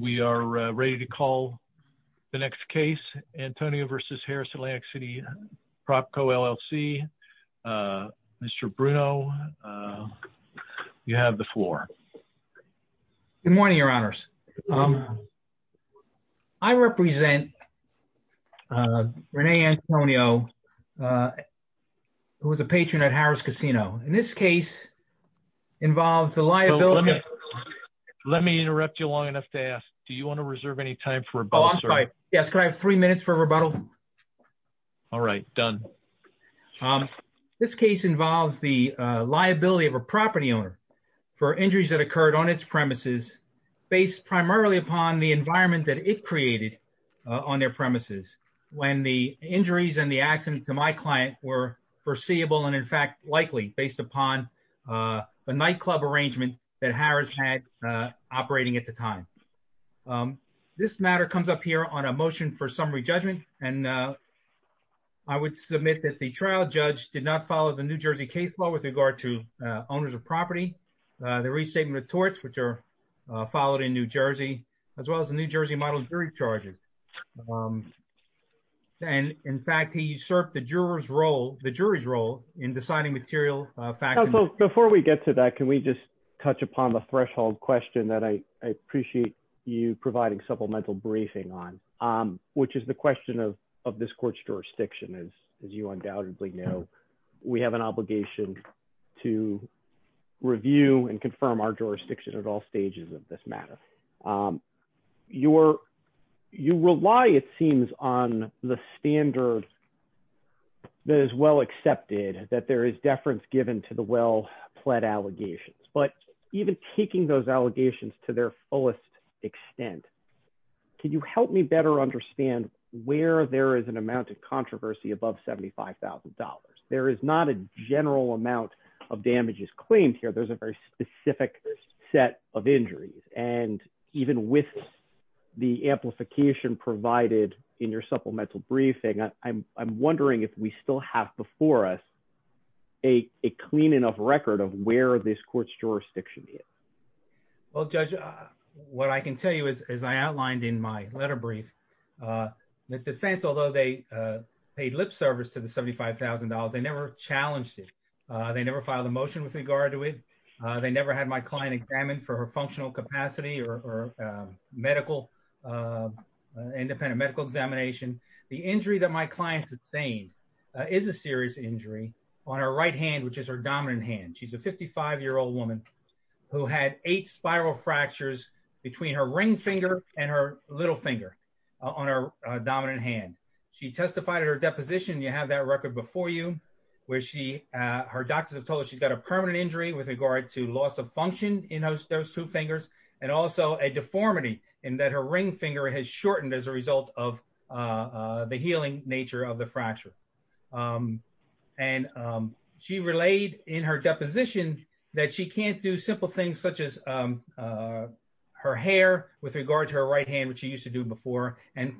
We are ready to call the next case. Antonio v. Harrahs Atlantic City, PropCo, LLC. Mr. Bruno, you have the floor. Good morning, your honors. I represent Rene Antonio, who is a patron at Harrahs Casino. And this case involves the liability of a property owner for injuries that occurred on its premises, based primarily upon the environment that it created on their premises, when the injuries and the accident to my client were foreseeable and, in fact, likely based upon a nightclub arrangement that Harrahs had operating at the time. This matter comes up here on a motion for summary judgment, and I would submit that the trial judge did not follow the New Jersey case law with regard to owners of property, the restatement of torts, which are followed in New Jersey, as well as the New Jersey model jury charges. And, in fact, he usurped the jury's role in deciding material facts. Before we get to that, can we just touch upon the threshold question that I appreciate you providing supplemental briefing on, which is the question of this court's jurisdiction. As you undoubtedly know, we have an obligation to review and confirm our claims. You rely, it seems, on the standard that is well accepted, that there is deference given to the well-pled allegations. But even taking those allegations to their fullest extent, can you help me better understand where there is an amount of controversy above $75,000? There is not a general amount of damages claimed here. There's a very specific set of injuries. And even with the amplification provided in your supplemental briefing, I'm wondering if we still have before us a clean enough record of where this court's jurisdiction is. Well, Judge, what I can tell you is, as I outlined in my letter brief, the defense, although they paid lip service to the $75,000, they never challenged it. They never filed a motion with it. They never had my client examined for her functional capacity or independent medical examination. The injury that my client sustained is a serious injury on her right hand, which is her dominant hand. She's a 55-year-old woman who had eight spiral fractures between her ring finger and her little finger on her dominant hand. She testified at her deposition, you have that record before you, where her doctors have told her she's got a permanent injury with regard to loss of function in those two fingers, and also a deformity in that her ring finger has shortened as a result of the healing nature of the fracture. And she relayed in her deposition that she can't do simple things such as her hair with regard to her right hand, which she used to do before, and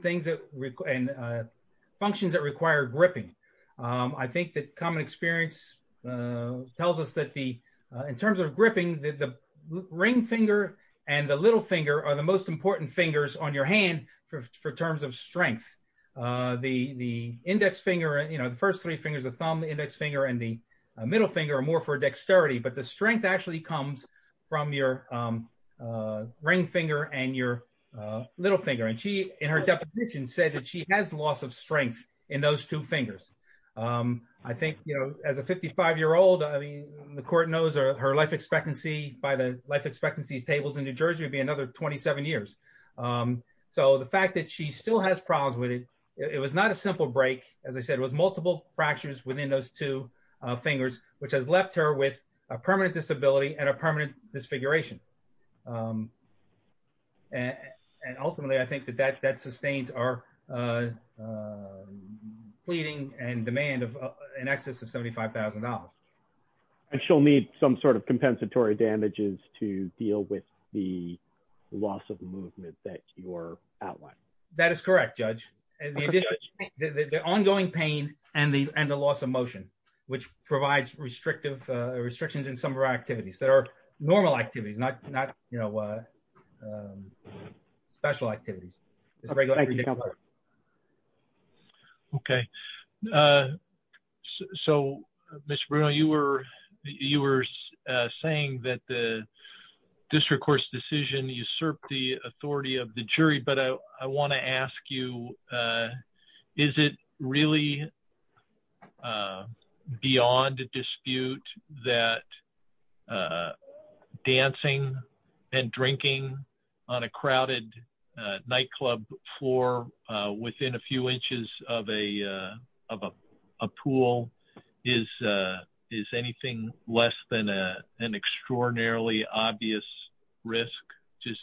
functions that require gripping. I think that common experience tells us that in terms of gripping, the ring finger and the little finger are the most important fingers on your hand for terms of strength. The index finger, the first three fingers, the thumb, the index finger, and the middle finger are more for dexterity, but the strength actually comes from your ring finger and your little finger. And she, in her deposition, said that she has loss of strength in those two fingers. I think, you know, as a 55-year-old, I mean, the court knows her life expectancy by the life expectancies tables in New Jersey would be another 27 years. So the fact that she still has problems with it, it was not a simple break. As I said, it was multiple fractures within those two fingers, which has left her with a permanent disability and a permanent disfiguration. And ultimately, I think that that sustains our pleading and demand of an excess of $75,000. And she'll need some sort of compensatory damages to deal with the loss of movement that you're outlining. That is correct, Judge. The ongoing pain and the loss of motion, which provides restrictions in some of our activities that are normal activities, not special activities. Okay. So, Mr. Bruno, you were saying that the district court's decision usurped the that dancing and drinking on a crowded nightclub floor within a few inches of a pool is anything less than an extraordinarily obvious risk, just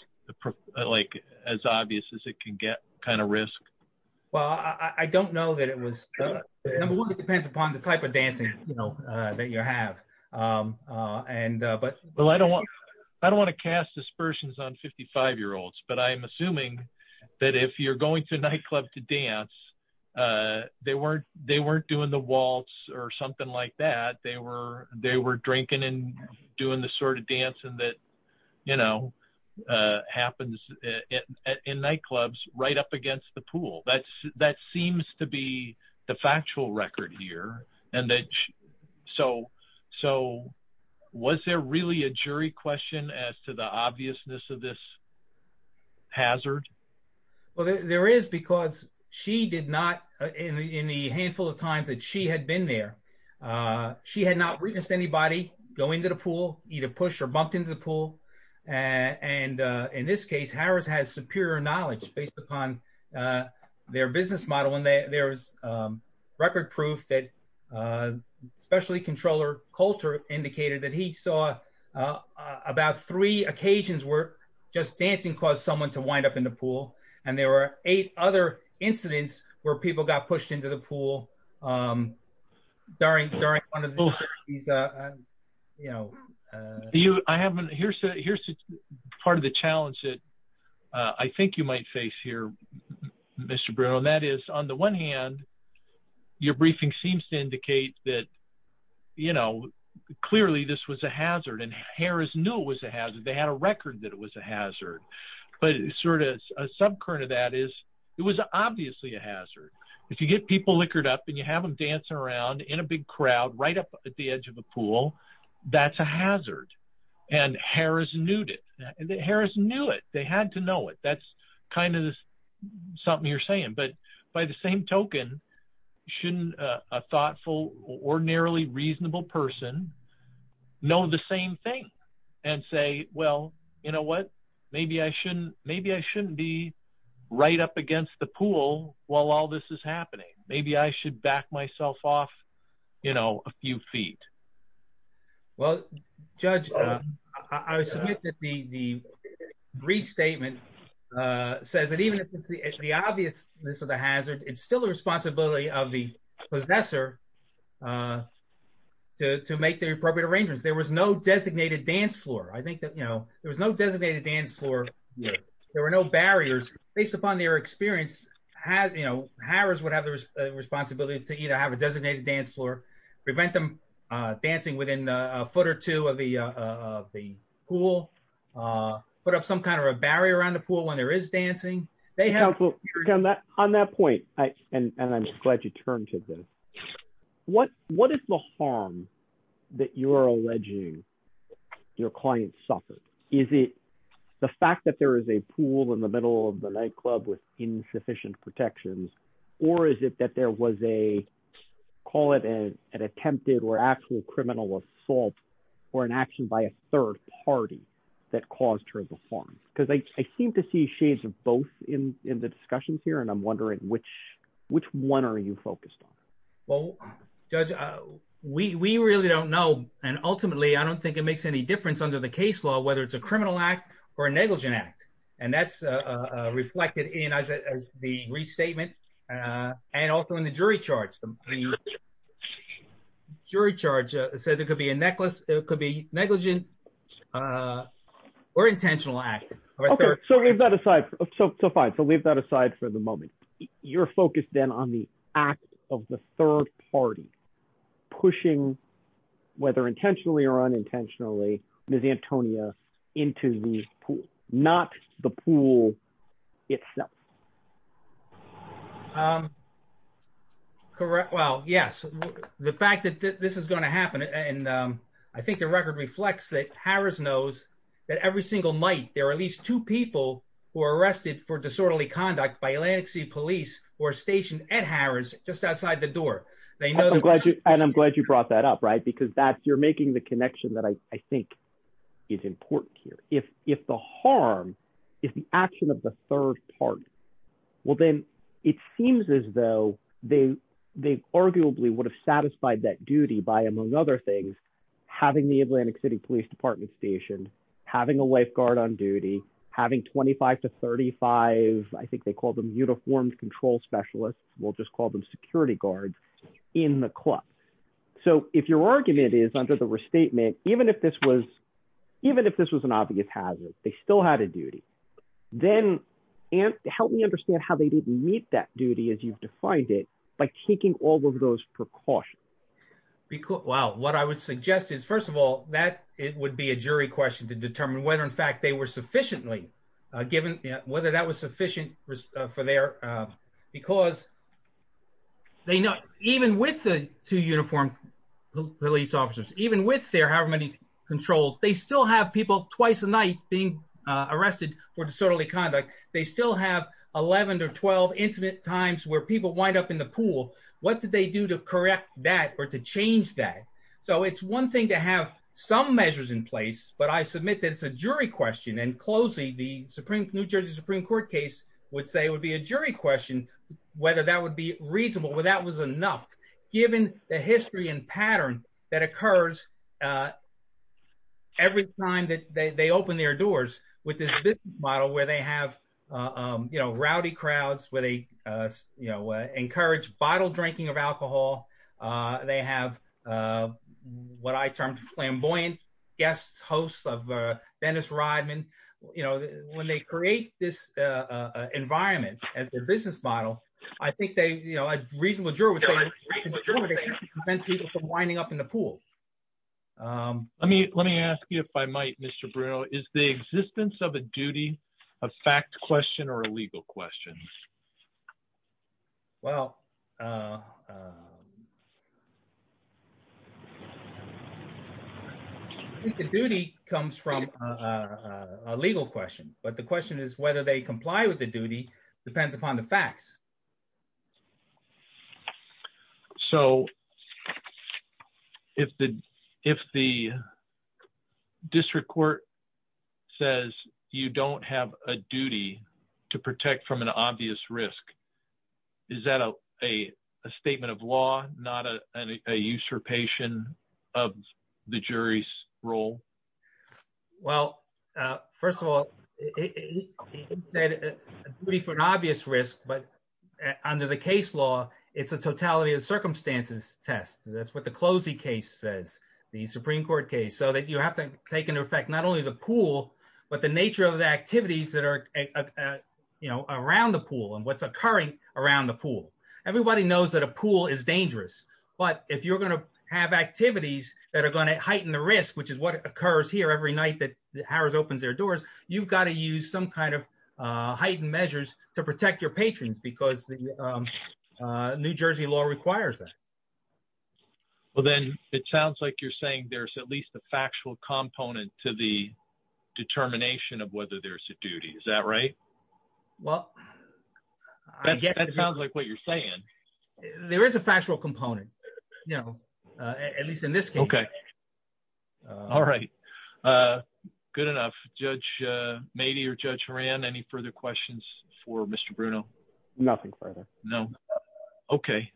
like as obvious as it can get kind of risk? Well, I don't know that it was. It depends upon the type of dancing that you have. I don't want to cast dispersions on 55-year-olds, but I'm assuming that if you're going to a nightclub to dance, they weren't doing the waltz or something like that. They were drinking and the sort of dancing that happens in nightclubs right up against the pool. That seems to be the factual record here. So, was there really a jury question as to the obviousness of this hazard? Well, there is because she did not, in the handful of times that she had been there, she had not witnessed anybody go into the pool, either push or bumped into the pool. And in this case, Harris has superior knowledge based upon their business model. And there's record proof that specialty controller Coulter indicated that he saw about three occasions where just dancing caused someone to wind up in the pool. And there were eight other incidents where people got pushed into the pool during one of these. Here's part of the challenge that I think you might face here, Mr. Bruno, and that is on the one hand, your briefing seems to indicate that clearly this was a hazard and Harris knew it was a hazard. They had a record that it was a hazard. But sort of a subcurrent of that is it was obviously a hazard. If you get people liquored up and you have them dancing around in a big crowd right up at the edge of a pool, that's a hazard. And Harris knew it. They had to know it. That's kind of something you're saying. But by the same token, shouldn't a thoughtful, ordinarily reasonable person know the same thing and say, well, you know what, maybe I shouldn't be right up against the pool while all this is happening. Maybe I should back myself off, you know, a few feet. Well, Judge, I submit that the restatement says that even if it's the obviousness of the hazard, it's still the responsibility of the possessor to make the appropriate arrangements. There was no designated dance floor. I think that, you know, there was no designated dance floor. There were no barriers. Based upon their experience, Harris would have the responsibility to either have a designated dance floor, prevent them dancing within a foot or two of the pool, put up some kind of a barrier around the pool when there is dancing. On that point, and I'm glad you turned to this, what is the harm that you're alleging your client suffered? Is it the fact that there is a pool in the middle of the nightclub with insufficient protections, or is it that there was a, call it an attempted or actual criminal assault or an action by a third party that caused her the harm? Because I seem to see shades of both in the discussions here, and I'm wondering which one are you focused on? Well, Judge, we really don't know, and ultimately, I don't think it makes any difference under the case law, whether it's a criminal act or a negligent act, and that's reflected in, as the restatement, and also in the jury charge. The jury charge said there could be a negligent or intentional act. Okay, so leave that aside for the moment. You're focused then on the act of the third party pushing, whether intentionally or unintentionally, Ms. Antonia into the pool, not the pool itself. Correct. Well, yes, the fact that this is going to happen, and I think the record reflects that Harris knows that every single night, there are at least two people who are arrested for disorderly police who are stationed at Harris just outside the door. And I'm glad you brought that up, right? Because you're making the connection that I think is important here. If the harm is the action of the third party, well, then it seems as though they arguably would have satisfied that duty by, among other things, having the Atlantic City Police Department stationed, having a lifeguard on duty, having 25 to 35, I think they call them uniformed control specialists, we'll just call them security guards, in the club. So if your argument is under the restatement, even if this was an obvious hazard, they still had a duty, then help me understand how they didn't meet that duty as you've defined it by taking all of those precautions. Because, well, what I would suggest is, first of all, that it would be a jury question to determine whether in fact they were sufficiently given, whether that was sufficient for their, because they know, even with the two uniformed police officers, even with their however many controls, they still have people twice a night being arrested for disorderly conduct. They still have 11 to 12 incident times where people wind up in the pool. What did they do to correct that or to change that? So it's one thing to have some measures in place, but I submit that it's a jury question, and closely the New Jersey Supreme Court case would say it would be a jury question whether that would be reasonable, whether that was enough, given the history and pattern that occurs every time that they open their doors with this business model where they have rowdy crowds, where they encourage bottle drinking of alcohol, they have what I termed flamboyant guests, hosts of Dennis Rodman. When they create this environment as their business model, I think a reasonable juror would say it would prevent people from winding up in the pool. Let me ask you if I might, Mr. Bruno, is the existence of a duty a fact question or a legal question? I think the duty comes from a legal question, but the question is whether they comply with the duty depends upon the facts. So if the district court says you don't have a duty to protect from an obvious risk, is that a statement of law, not a usurpation of the jury's role? Well, first of all, a duty for an obvious risk, but under the case law, it's a totality of circumstances test. That's what the CLOSI case says, the Supreme Court case, so that you have to take into effect not only the pool, but the nature of the activities that are around the pool and what's occurring around the pool. Everybody knows that a pool is dangerous, but if you're going to heighten the risk, which is what occurs here every night that Harris opens their doors, you've got to use some kind of heightened measures to protect your patrons because the New Jersey law requires that. Well, then it sounds like you're saying there's at least a factual component to the determination of whether there's a duty. Is that right? Well, I get it. That sounds like what you're saying. There is a factual component, at least in this case. All right. Good enough. Judge Mady or Judge Horan, any further questions for Mr. Bruno? Nothing further. No? Okay.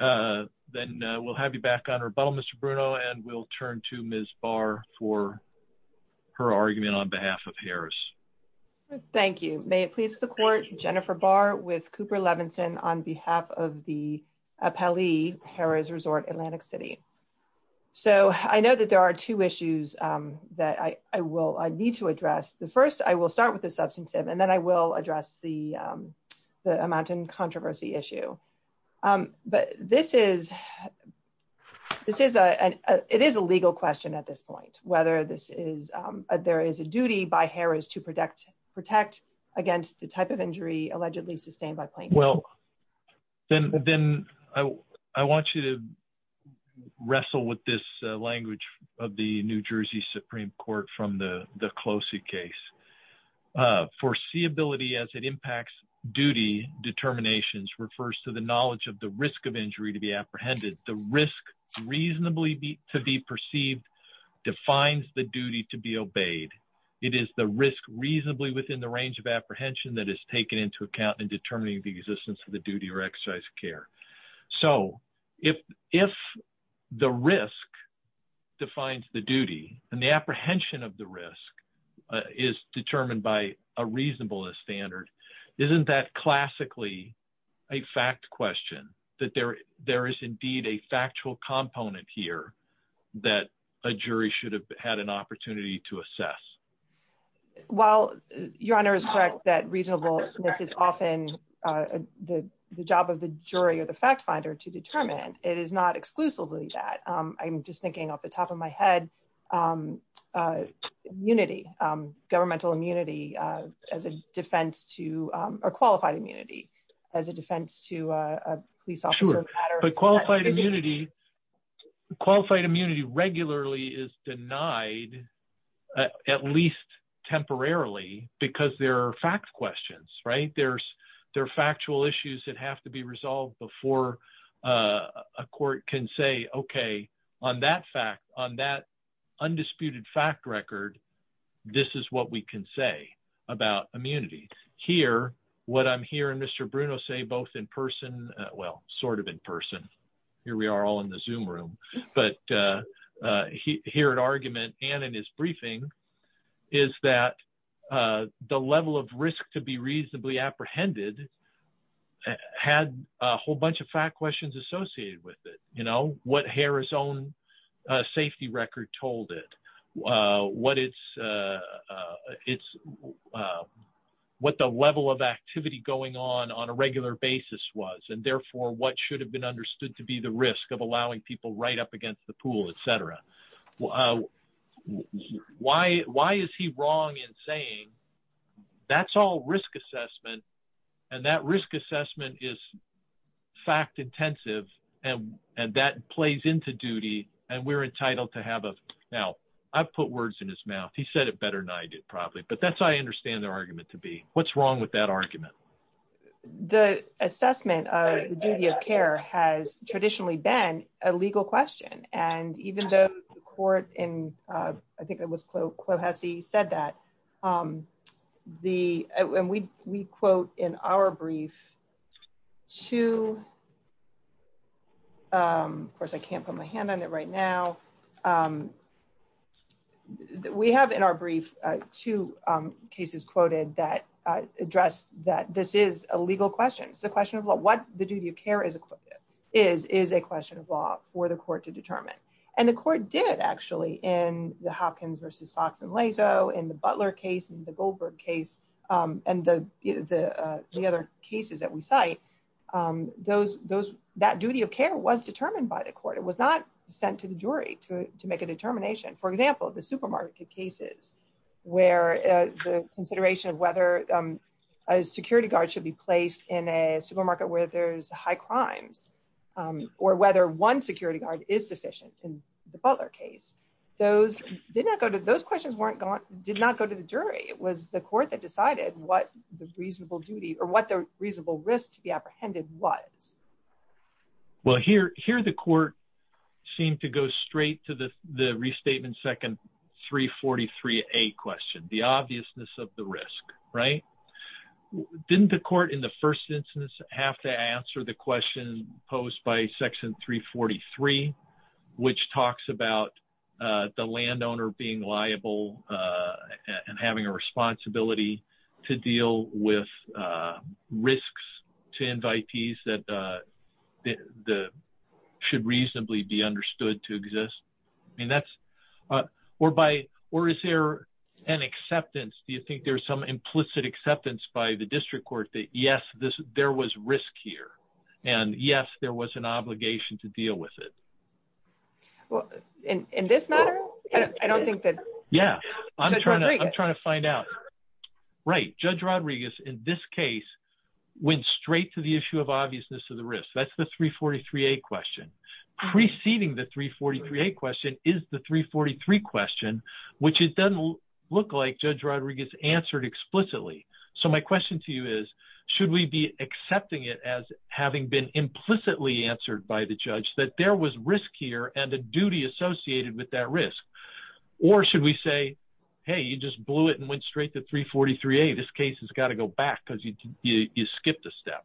Then we'll have you back on rebuttal, Mr. Bruno, and we'll turn to Ms. Barr for her argument on behalf of Harris. Thank you. May it please the court, Jennifer Barr with Cooper Levinson on behalf of the I know that there are two issues that I need to address. The first, I will start with the substantive, and then I will address the amount in controversy issue. But it is a legal question at this point, whether there is a duty by Harris to protect against the type of injury allegedly sustained by plaintiff. Well, then I want you to wrestle with this language of the New Jersey Supreme Court from the Closet case. Foreseeability as it impacts duty determinations refers to the knowledge of the risk of injury to be apprehended. The risk reasonably to be perceived defines the duty to be obeyed. It is the risk reasonably within the range of apprehension that is taken into account in determining the existence of the duty or exercise of care. So if the risk defines the duty and the apprehension of the risk is determined by a reasonableness standard, isn't that classically a fact question that there is indeed a factual component here that a jury should have had an opportunity to assess? Well, Your Honor is correct that reasonableness is often the job of the jury or the fact finder to determine. It is not exclusively that. I'm just thinking off the top of my head, immunity, governmental immunity, as a defense to, or qualified immunity, as a defense to a police officer. Qualified immunity regularly is denied at least temporarily because there are fact questions, right? There are factual issues that have to be resolved before a court can say, okay, on that fact, on that undisputed fact record, this is what we can say about immunity. Here, what I'm hearing Mr. Bruno say both in person, well, sort of in person, here we are all in the Zoom room, but here at argument and in his briefing is that the level of risk to be reasonably apprehended had a whole bunch of fact questions associated with it. What Harris' own safety record told it, what the level of activity going on on a regular basis was, and therefore, what should have been understood to be the risk of allowing people right up against the pool, et cetera. Why is he wrong in saying that's all risk assessment and that risk assessment is fact intensive and that plays into duty and we're entitled to have a... Now, I've put words in his mouth. He said it better than I did probably, but that's how I understand the argument to be. What's wrong with that argument? The assessment of the duty of care has traditionally been a legal question. And even though the court in, I think it was Clohessy said that, the... And we quote in our brief to... Of course, I can't put my hand on it right now. We have in our brief, two cases quoted that address that this is a legal question. It's a question of what the duty of care is a question of law for the court to determine. And the court did actually in the Hopkins versus Fox and Lazo, in the Butler case, in the Goldberg case, and the other cases that we cite, that duty of care was determined by the court. It was not sent to the jury to make a determination. For example, the supermarket cases, where the consideration of whether a security guard should be placed in a supermarket where there's high crimes, or whether one security guard is sufficient in the Butler case, those questions did not go to the jury. It was the court that decided what the reasonable duty or what the reasonable risk to be apprehended was. Well, here the court seemed to go straight to the restatement second 343A question, the obviousness of the risk. Didn't the court in the first instance have to answer the question posed by section 343, which talks about the landowner being liable and having a responsibility to deal with risks to invitees that should reasonably be understood to exist? Or is there an acceptance? Do you think there's some implicit acceptance by the district court that yes, there was risk here, and yes, there was an obligation to deal with it? Well, in this matter, I don't think that... Yeah, I'm trying to find out. Right. Judge Rodriguez, in this case, went straight to the issue of obviousness of the risk. That's the 343A question. Preceding the 343A question is the 343 question, which it doesn't look like it's answered explicitly. So my question to you is, should we be accepting it as having been implicitly answered by the judge that there was risk here and a duty associated with that risk? Or should we say, hey, you just blew it and went straight to 343A. This case has got to go back because you skipped a step.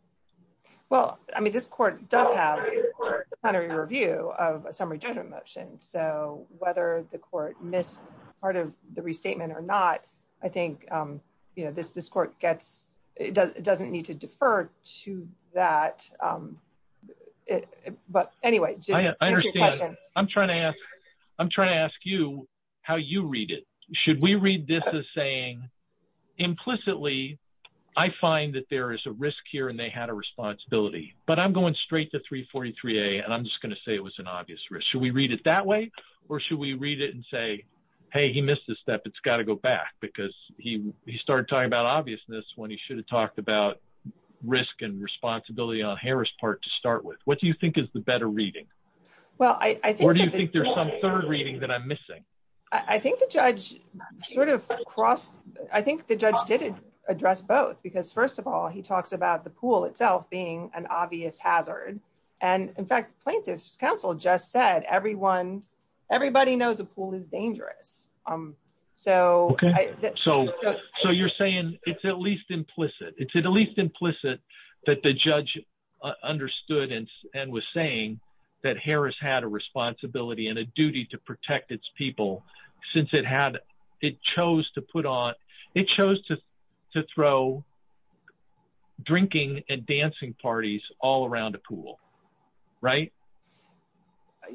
Well, I mean, this court does have a plenary review of a summary judgment motion. So whether the court missed part of the restatement or not, I think this court doesn't need to defer to that. But anyway, that's your question. I'm trying to ask you how you read it. Should we read this as saying, implicitly, I find that there is a risk here and they had a responsibility. But I'm going straight to 343A, and I'm just going to say it was an implicitly answered question. Should we read it that way? Or should we read it and say, hey, he missed a step. It's got to go back. Because he started talking about obviousness when he should have talked about risk and responsibility on Harris' part to start with. What do you think is the better reading? Or do you think there's some third reading that I'm missing? I think the judge sort of crossed, I think the judge did address both. Because first of all, he talks about the pool itself being an obvious hazard. And in fact, plaintiff's counsel just said, everybody knows a pool is dangerous. So you're saying it's at least implicit. It's at least implicit that the judge understood and was saying that Harris had a responsibility and a drinking and dancing parties all around a pool, right?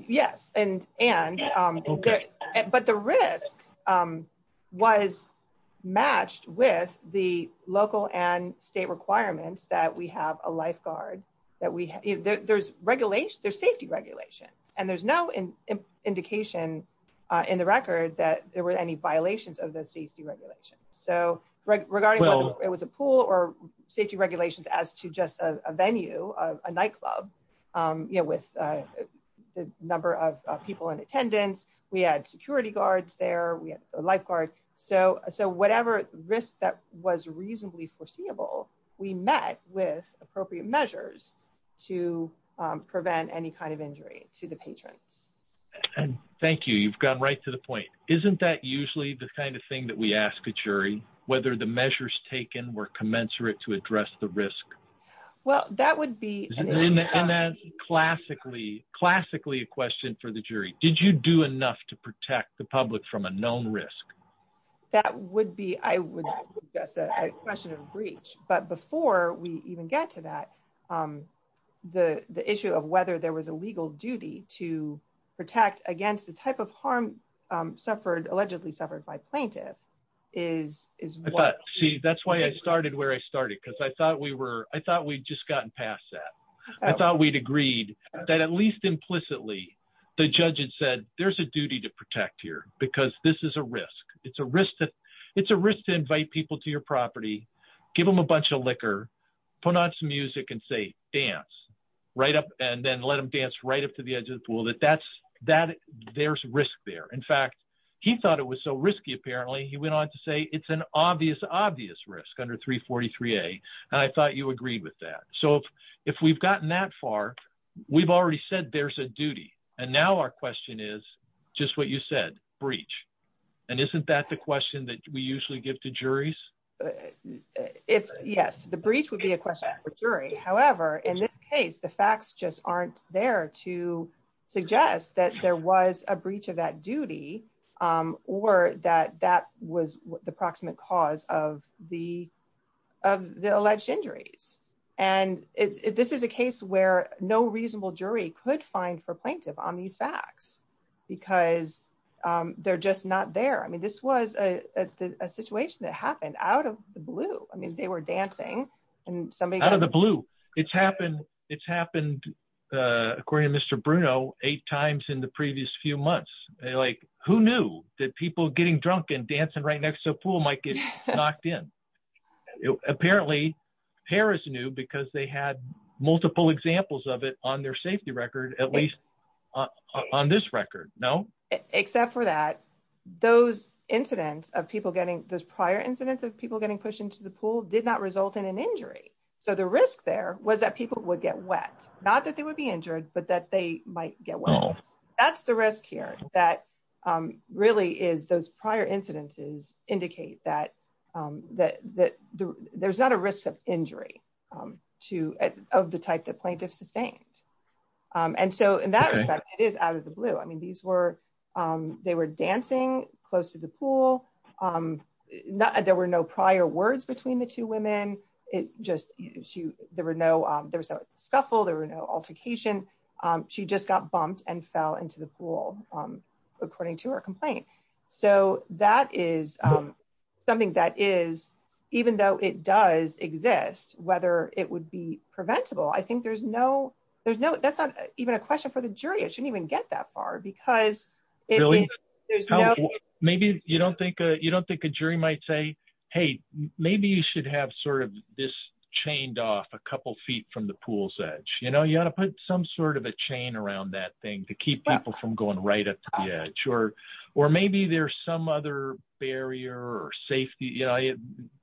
Yes. But the risk was matched with the local and state requirements that we have a lifeguard. There's safety regulations. And there's no indication in the record that there were any violations of those safety regulations. So regarding whether it was a pool or safety regulations as to just a venue, a nightclub, with the number of people in attendance, we had security guards there, we had a lifeguard. So whatever risk that was reasonably foreseeable, we met with appropriate measures to prevent any kind of injury to the patrons. Thank you. You've gotten right to the point. Isn't that usually the kind of thing that we ask a jury, whether the measures taken were commensurate to address the risk? Well, that would be classically, classically a question for the jury. Did you do enough to protect the public from a known risk? That would be I would guess that a question of breach. But before we even get to that, the issue of whether there was a legal duty to protect against the type of harm suffered, allegedly suffered by plaintiff is, is what? See, that's why I started where I started, because I thought we were, I thought we'd just gotten past that. I thought we'd agreed that at least implicitly, the judge had said, there's a duty to protect here, because this is a risk. It's a risk to, it's a risk to invite people to your property, give them a bunch of liquor, put on some music and say dance, right up and then let them dance right up to the edge of the pool that that's that there's risk there. In fact, he thought it was so risky. Apparently, he went on to say it's an obvious, obvious risk under 343. And I thought you agreed with that. So if we've gotten that far, we've already said there's a duty. And now our question is just what you said, breach. And isn't that the question that we usually give to juries? If yes, the breach would be a suggest that there was a breach of that duty, or that that was the proximate cause of the, of the alleged injuries. And it's this is a case where no reasonable jury could find for plaintiff on these facts, because they're just not there. I mean, this was a situation that happened out of the blue. I mean, they were dancing, and somebody out of the blue, it's happened. It's eight times in the previous few months, like who knew that people getting drunk and dancing right next to the pool might get knocked in. Apparently, Paris knew because they had multiple examples of it on their safety record, at least on this record, no, except for that, those incidents of people getting those prior incidents of people getting pushed into the pool did not result in an injury. So the risk there was that people would get wet, not that they would be injured, but that they might get well, that's the risk here that really is those prior incidences indicate that, that there's not a risk of injury to of the type that plaintiff sustained. And so in that respect, it is out of the blue. I mean, these were, they were dancing close to the pool. Not there were no prior words between the two women, it just you there were no, there's no scuffle, there were no altercation. She just got bumped and fell into the pool, according to her complaint. So that is something that is, even though it does exist, whether it would be preventable, I think there's no, there's no, that's not even a question for the jury, it shouldn't even get that far, because maybe you don't think you don't think a jury might say, hey, maybe you should have sort of this chained off a couple feet from the pool's edge, you know, you want to put some sort of a chain around that thing to keep people from going right up to the edge or, or maybe there's some other barrier or safety, you know,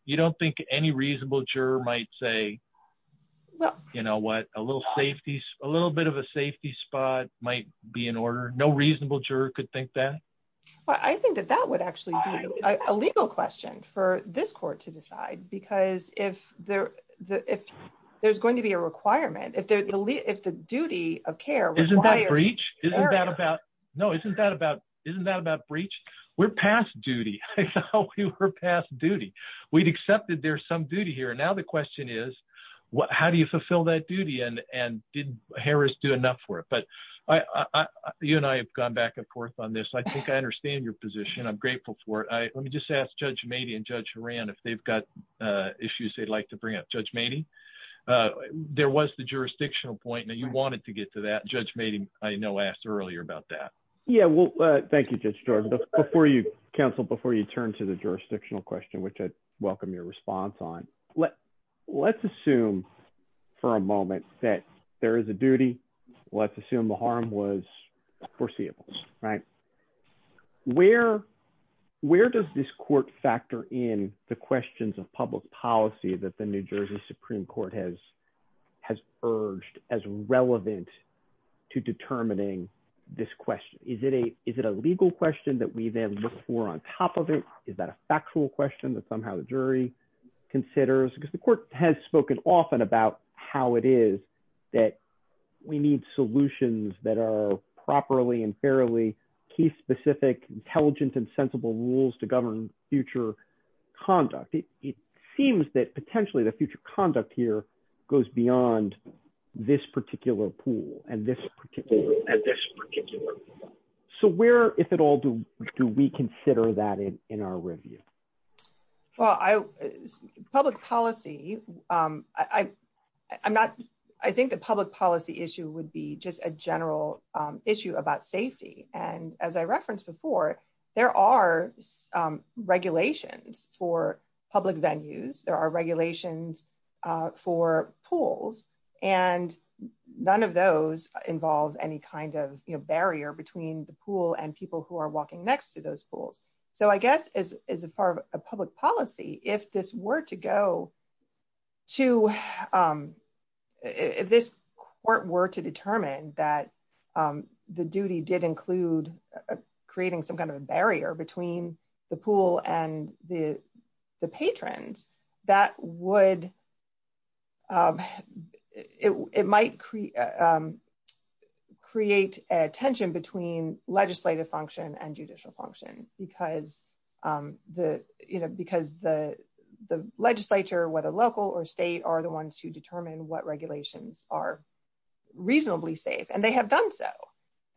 you don't think any reasonable juror might say, well, you know, what a little safety, a little bit of a safety spot might be in order, no reasonable juror could think that? Well, I think that that would actually be a legal question for this court to decide, because if there, if there's going to be a requirement, if the duty of care, isn't that breach? Isn't that about? No, isn't that about? Isn't that about breach? We're past duty. We're past duty. We'd accepted there's some duty here. And now the question is, what, how do you fulfill that duty? And did Harris do enough for it? But I, you and I have gone back and forth on this, I think I understand your position. I'm grateful for it. I let me just ask Judge Mady and Judge Rand, if they've got issues, they'd like to bring up Judge Mady. There was the jurisdictional point that you wanted to get to that Judge Mady, I know, asked earlier about that. Yeah, well, thank you, Judge Jordan. Before you counsel, before you turn to the jurisdictional question, which I welcome your response on, let, let's assume for a moment that there is a duty, let's assume the harm was foreseeable, right? Where, where does this court factor in the questions of public policy that the New Jersey Supreme Court has, has urged as relevant to determining this question? Is it a, is it a legal question that we then look for on top of it? Is that a factual question that somehow the jury considers? Because the court has spoken often about how it is that we need solutions that are properly and fairly case-specific, intelligent, and sensible rules to govern future conduct. It seems that potentially the future conduct here goes beyond this particular pool and this particular, and this particular. So where, if at all, do we consider that in, in our review? Well, I, public policy, I, I'm not, I think the public policy issue would be just a general issue about safety. And as I referenced before, there are regulations for public venues. There are regulations for pools and none of those involve any kind of barrier between the pool and people who are walking next to those pools. So I guess as, as far as a public policy, if this were to go to, if this court were to determine that the duty did include creating some kind of a barrier between the pool and the, the patrons, that would, it, it might create, create a tension between legislative function and judicial function because the, you know, because the, the legislature, whether local or state, are the ones who determine what regulations are reasonably safe. And they have done so.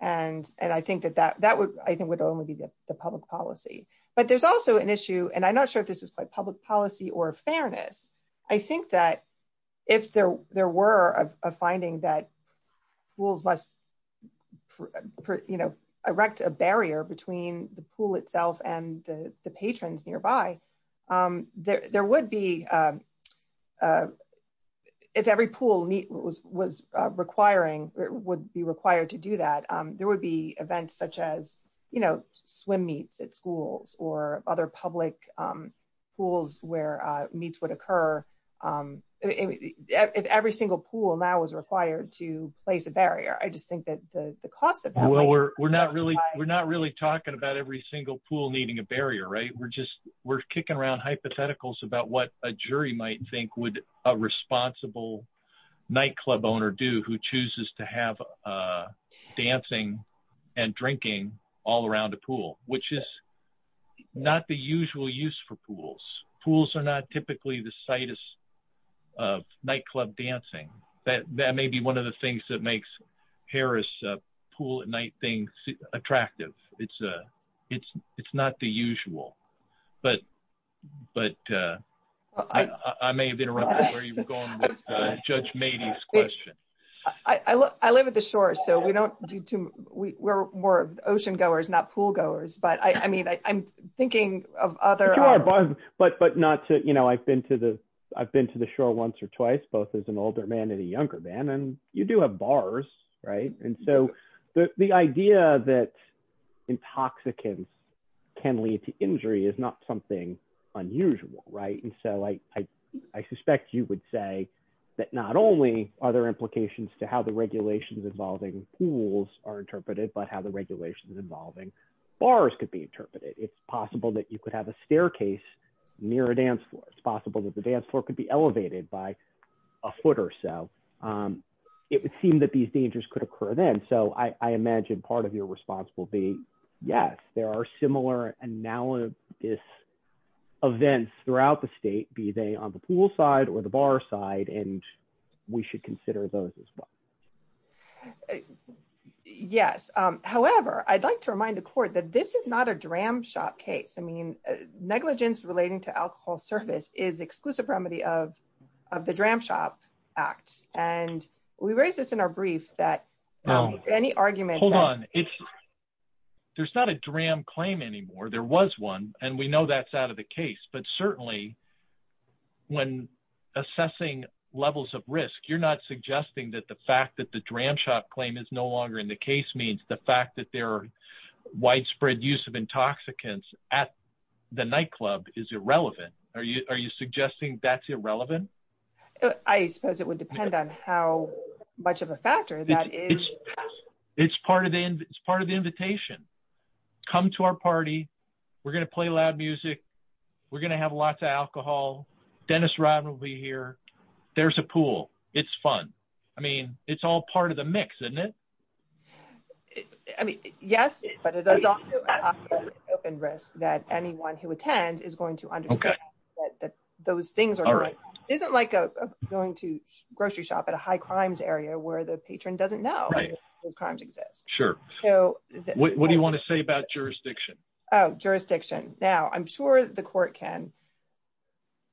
And, and I think that that, that would, I think would only be the public policy. But there's also an issue, and I'm not sure if this is quite public policy or fairness. I think that if there, there were a finding that pools must, you know, erect a barrier between the pool itself and the, the patrons nearby, there, there would be, if every pool was, was requiring, would be required to do that, there would be events such as, you know, swim meets at schools or other public pools where meets would occur. If every single pool now was required to place a barrier, I just think that the cost of that. Well, we're, we're not really, we're not really talking about every single pool needing a barrier, right? We're just, we're kicking around hypotheticals about what a jury might think would a responsible nightclub owner do who chooses to have dancing and drinking all around a pool, which is not the usual use for pools. Pools are not typically the site of nightclub dancing. That, that may be one of the things that makes Harris Pool at Night thing attractive. It's a, it's, it's not the usual. But, but I, I may have interrupted where you were going with Judge Mady's question. I, I, I live at the shore, so we don't do too, we, we're more ocean goers, not pool goers, but I, I mean, I, I'm thinking of other. But, but not to, you know, I've been to the, I've been to the shore once or twice, both as an older man and a younger man, and you do have bars, right? And so the, the idea that intoxicants can lead to injury is not something unusual, right? And so I, I, I suspect you would say that not only are there implications to how the regulations involving pools are interpreted, but how the regulations involving bars could be interpreted. It's possible that you could have a staircase near a dance floor. It's possible that the dance floor could be elevated by a foot or so. It would seem that these dangers could occur then. So I, I imagine part of your response will be, yes, there are similar analogous events throughout the state, be they on the pool side or the bar side, and we should consider those as well. Yes. However, I'd like to remind the court that this is not a dram shop case. I mean, negligence relating to alcohol service is exclusive remedy of, of the dram shop act. And we raised this in our brief that any argument, Hold on. It's, there's not a dram claim anymore. There was one and we know that's out of the case, but certainly when assessing levels of risk, you're not suggesting that the fact that the dram shop claim is no longer in the case means the fact that there are widespread use of intoxicants at the nightclub is irrelevant. Are you, are you suggesting that's irrelevant? I suppose it would depend on how much of a factor that is. It's part of the, it's part of the invitation. Come to our party. We're going to play loud music. We're going to have lots of alcohol. Dennis Rodman will be here. There's a pool. It's fun. I mean, it's all part of the mix, isn't it? I mean, yes, but it is open risk that anyone who attends is going to understand that those things aren't right. It isn't like going to grocery shop at a high crimes area where the patron doesn't know those crimes exist. Sure. So what do you want to say about jurisdiction? Oh, jurisdiction. Now I'm sure the court can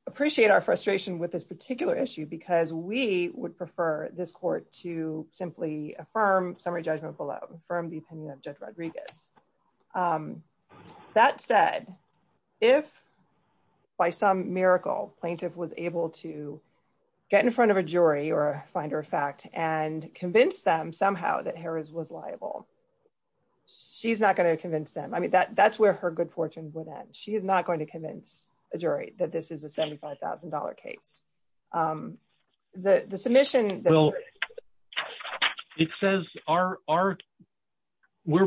appreciate our frustration with this particular issue because we would prefer this court to simply affirm summary judgment below, affirm the opinion of judge Rodriguez. That said, if by some miracle plaintiff was able to get in front of a jury or find her a fact and convince them somehow that Harris was liable, she's not going to convince them. I mean, that that's where her good fortune would end. She is not going to convince a jury that this is a $75,000 case. The submission. It says we're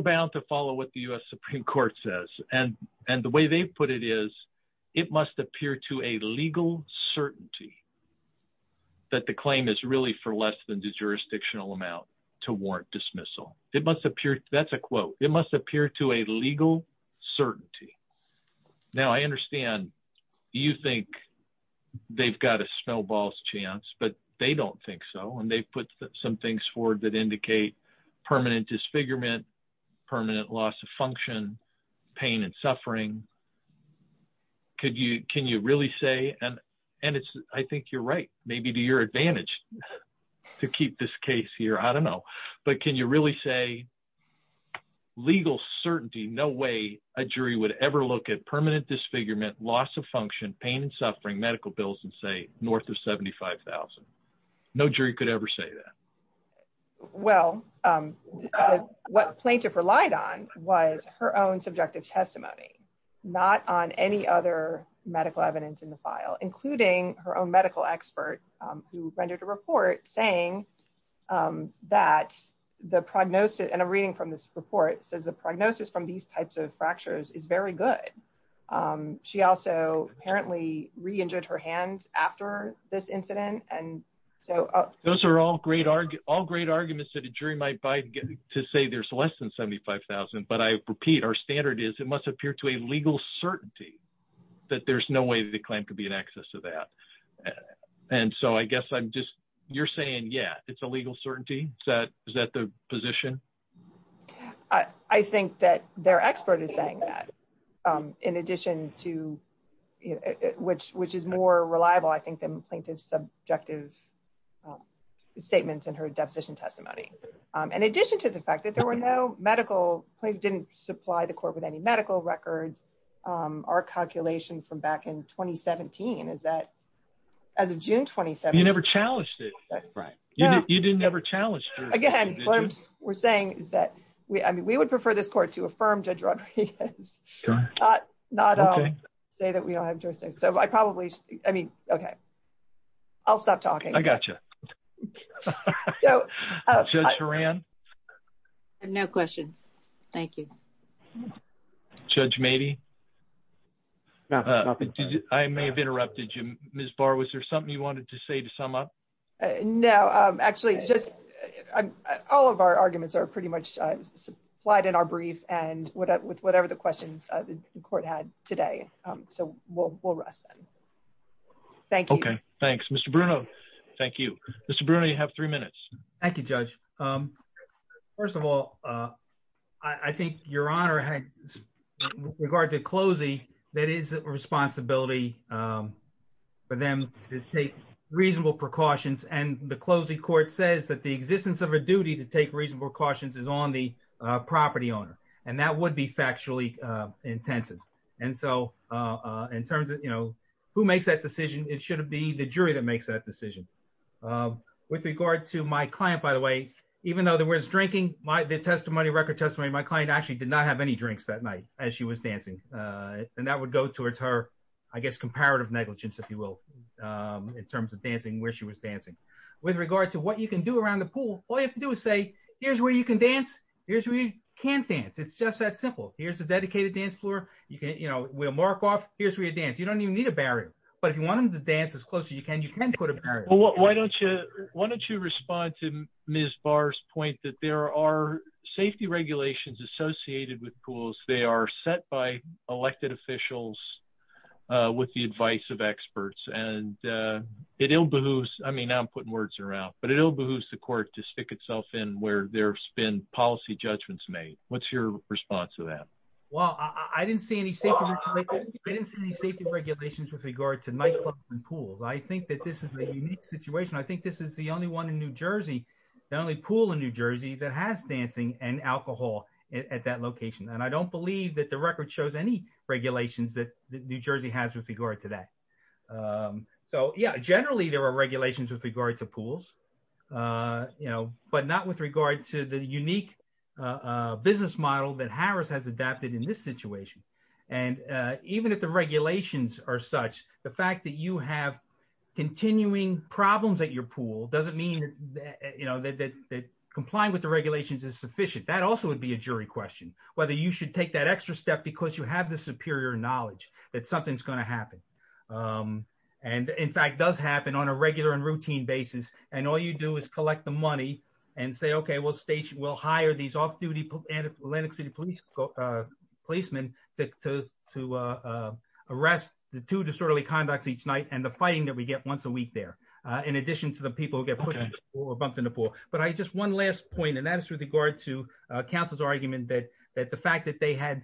bound to follow what the U.S. Supreme court says. And the way they put it is it must appear to a legal certainty that the claim is really for less than the jurisdictional amount to warrant dismissal. It must appear. That's a quote. It must appear to a legal certainty. Now, I understand you think they've got a snowball's chance, but they don't think so. And they put some things forward that indicate permanent disfigurement, permanent loss of function, pain and suffering. Could you can you really say and and it's I think you're right, maybe to your advantage to keep this case here? I don't know. But can you really say legal certainty? No way a jury would ever look at permanent disfigurement, loss of function, pain and suffering medical bills and say north of 75,000. No jury could ever say that. Well, what plaintiff relied on was her own subjective testimony, not on any other evidence in the file, including her own medical expert who rendered a report saying that the prognosis and a reading from this report says the prognosis from these types of fractures is very good. She also apparently re injured her hands after this incident. And so those are all great, all great arguments that a jury might buy to say there's less than 75000. But I repeat, our standard is it must appear to a legal certainty that there's no way the claim could be an access to that. And so I guess I'm just you're saying, yeah, it's a legal certainty that is that the position? I think that their expert is saying that, in addition to which, which is more reliable, I think the plaintiff's subjective statements and her deposition testimony, in addition to the fact that there were no medical claims didn't supply the court with any medical records. Our calculation from back in 2017 is that as of June 27, you never challenged it, right? Yeah, you didn't ever challenged. Again, we're saying is that we I mean, we would prefer this court to affirm Judge Rodriguez. Not say that we don't have to say so I probably I mean, okay. I'll stop talking. I gotcha. Just ran. No questions. Thank you. Judge, maybe. I may have interrupted you, Ms. Barr. Was there something you wanted to say to sum up? No, actually, just all of our arguments are pretty much supplied in our brief and what with whatever the questions the court had today. So we'll we'll rest them. Thank you. Thanks, Mr. Bruno. Thank you, Mr. Bruno. You have three minutes. Thank you, Judge. First of all, I think your honor had regard to closing. That is a responsibility for them to take reasonable precautions. And the closing court says that the existence of a duty to take reasonable cautions is on the property owner, and that would be factually intensive. And so in terms of, you know, who makes that decision, it shouldn't be the jury that makes that decision. With regard to my client, by the way, even though there was drinking my testimony, record testimony, my client actually did not have any drinks that night as she was dancing. And that would go towards her, I guess, comparative negligence, if you will, in terms of dancing where she was dancing. With regard to what you can do around the pool, all you have to do is say, here's where you can dance. Here's where you can't dance. It's just that simple. Here's a dedicated dance floor. You can, you know, we'll mark off, here's where you dance. You don't even need a barrier. But if you want them to dance as close as you can, you can put a barrier. Why don't you respond to Ms. Barr's point that there are safety regulations associated with pools. They are set by elected officials with the advice of experts. And it ill behooves, I mean, I'm putting words around, but it ill behooves the court to stick itself in where there's been policy judgments made. What's your response to that? Well, I didn't see any safety regulations with regard to nightclubs and pools. I think that this is a unique situation. I think this is the only one in New Jersey, the only pool in New Jersey, that has dancing and alcohol at that location. And I don't believe that the record shows any regulations that New Jersey has with regard to that. So yeah, generally there are regulations with regard to pools, you know, but not with regard to the unique business model that Harris has adapted in this situation. And even if the regulations are such, the fact that you have continuing problems at your pool doesn't mean that, you know, that complying with the regulations is sufficient. That also would be a jury question, whether you should take that extra step because you have the superior knowledge that something's going to happen. And in fact, does happen on a regular and routine basis. And all you do is collect the money and say, okay, we'll hire these off-duty Atlantic City policemen to arrest the two disorderly conducts each night and the fighting that we get once a week there, in addition to the people who get pushed or bumped in the pool. But just one last point, and that is with regard to counsel's argument that the fact that they had,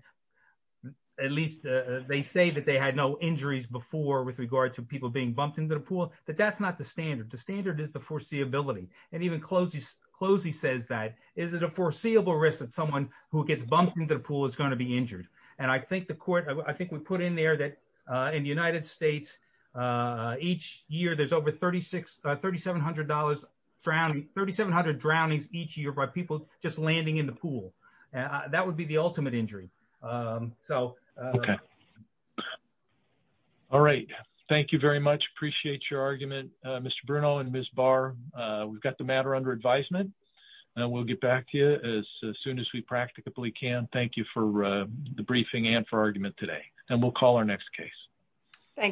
at least they say that they had no injuries before with regard to people being bumped into the pool, that that's not the standard. The standard is the foreseeability. And even foreseeable risk that someone who gets bumped into the pool is going to be injured. And I think the court, I think we put in there that in the United States, each year, there's over 36, $3,700 drowning, 3,700 drownings each year by people just landing in the pool. And that would be the ultimate injury. So. Okay. All right. Thank you very much. Appreciate your argument, Mr. Bruno and Ms. Barr. We've got the as soon as we practically can. Thank you for the briefing and for argument today. And we'll call our next case. Thank you.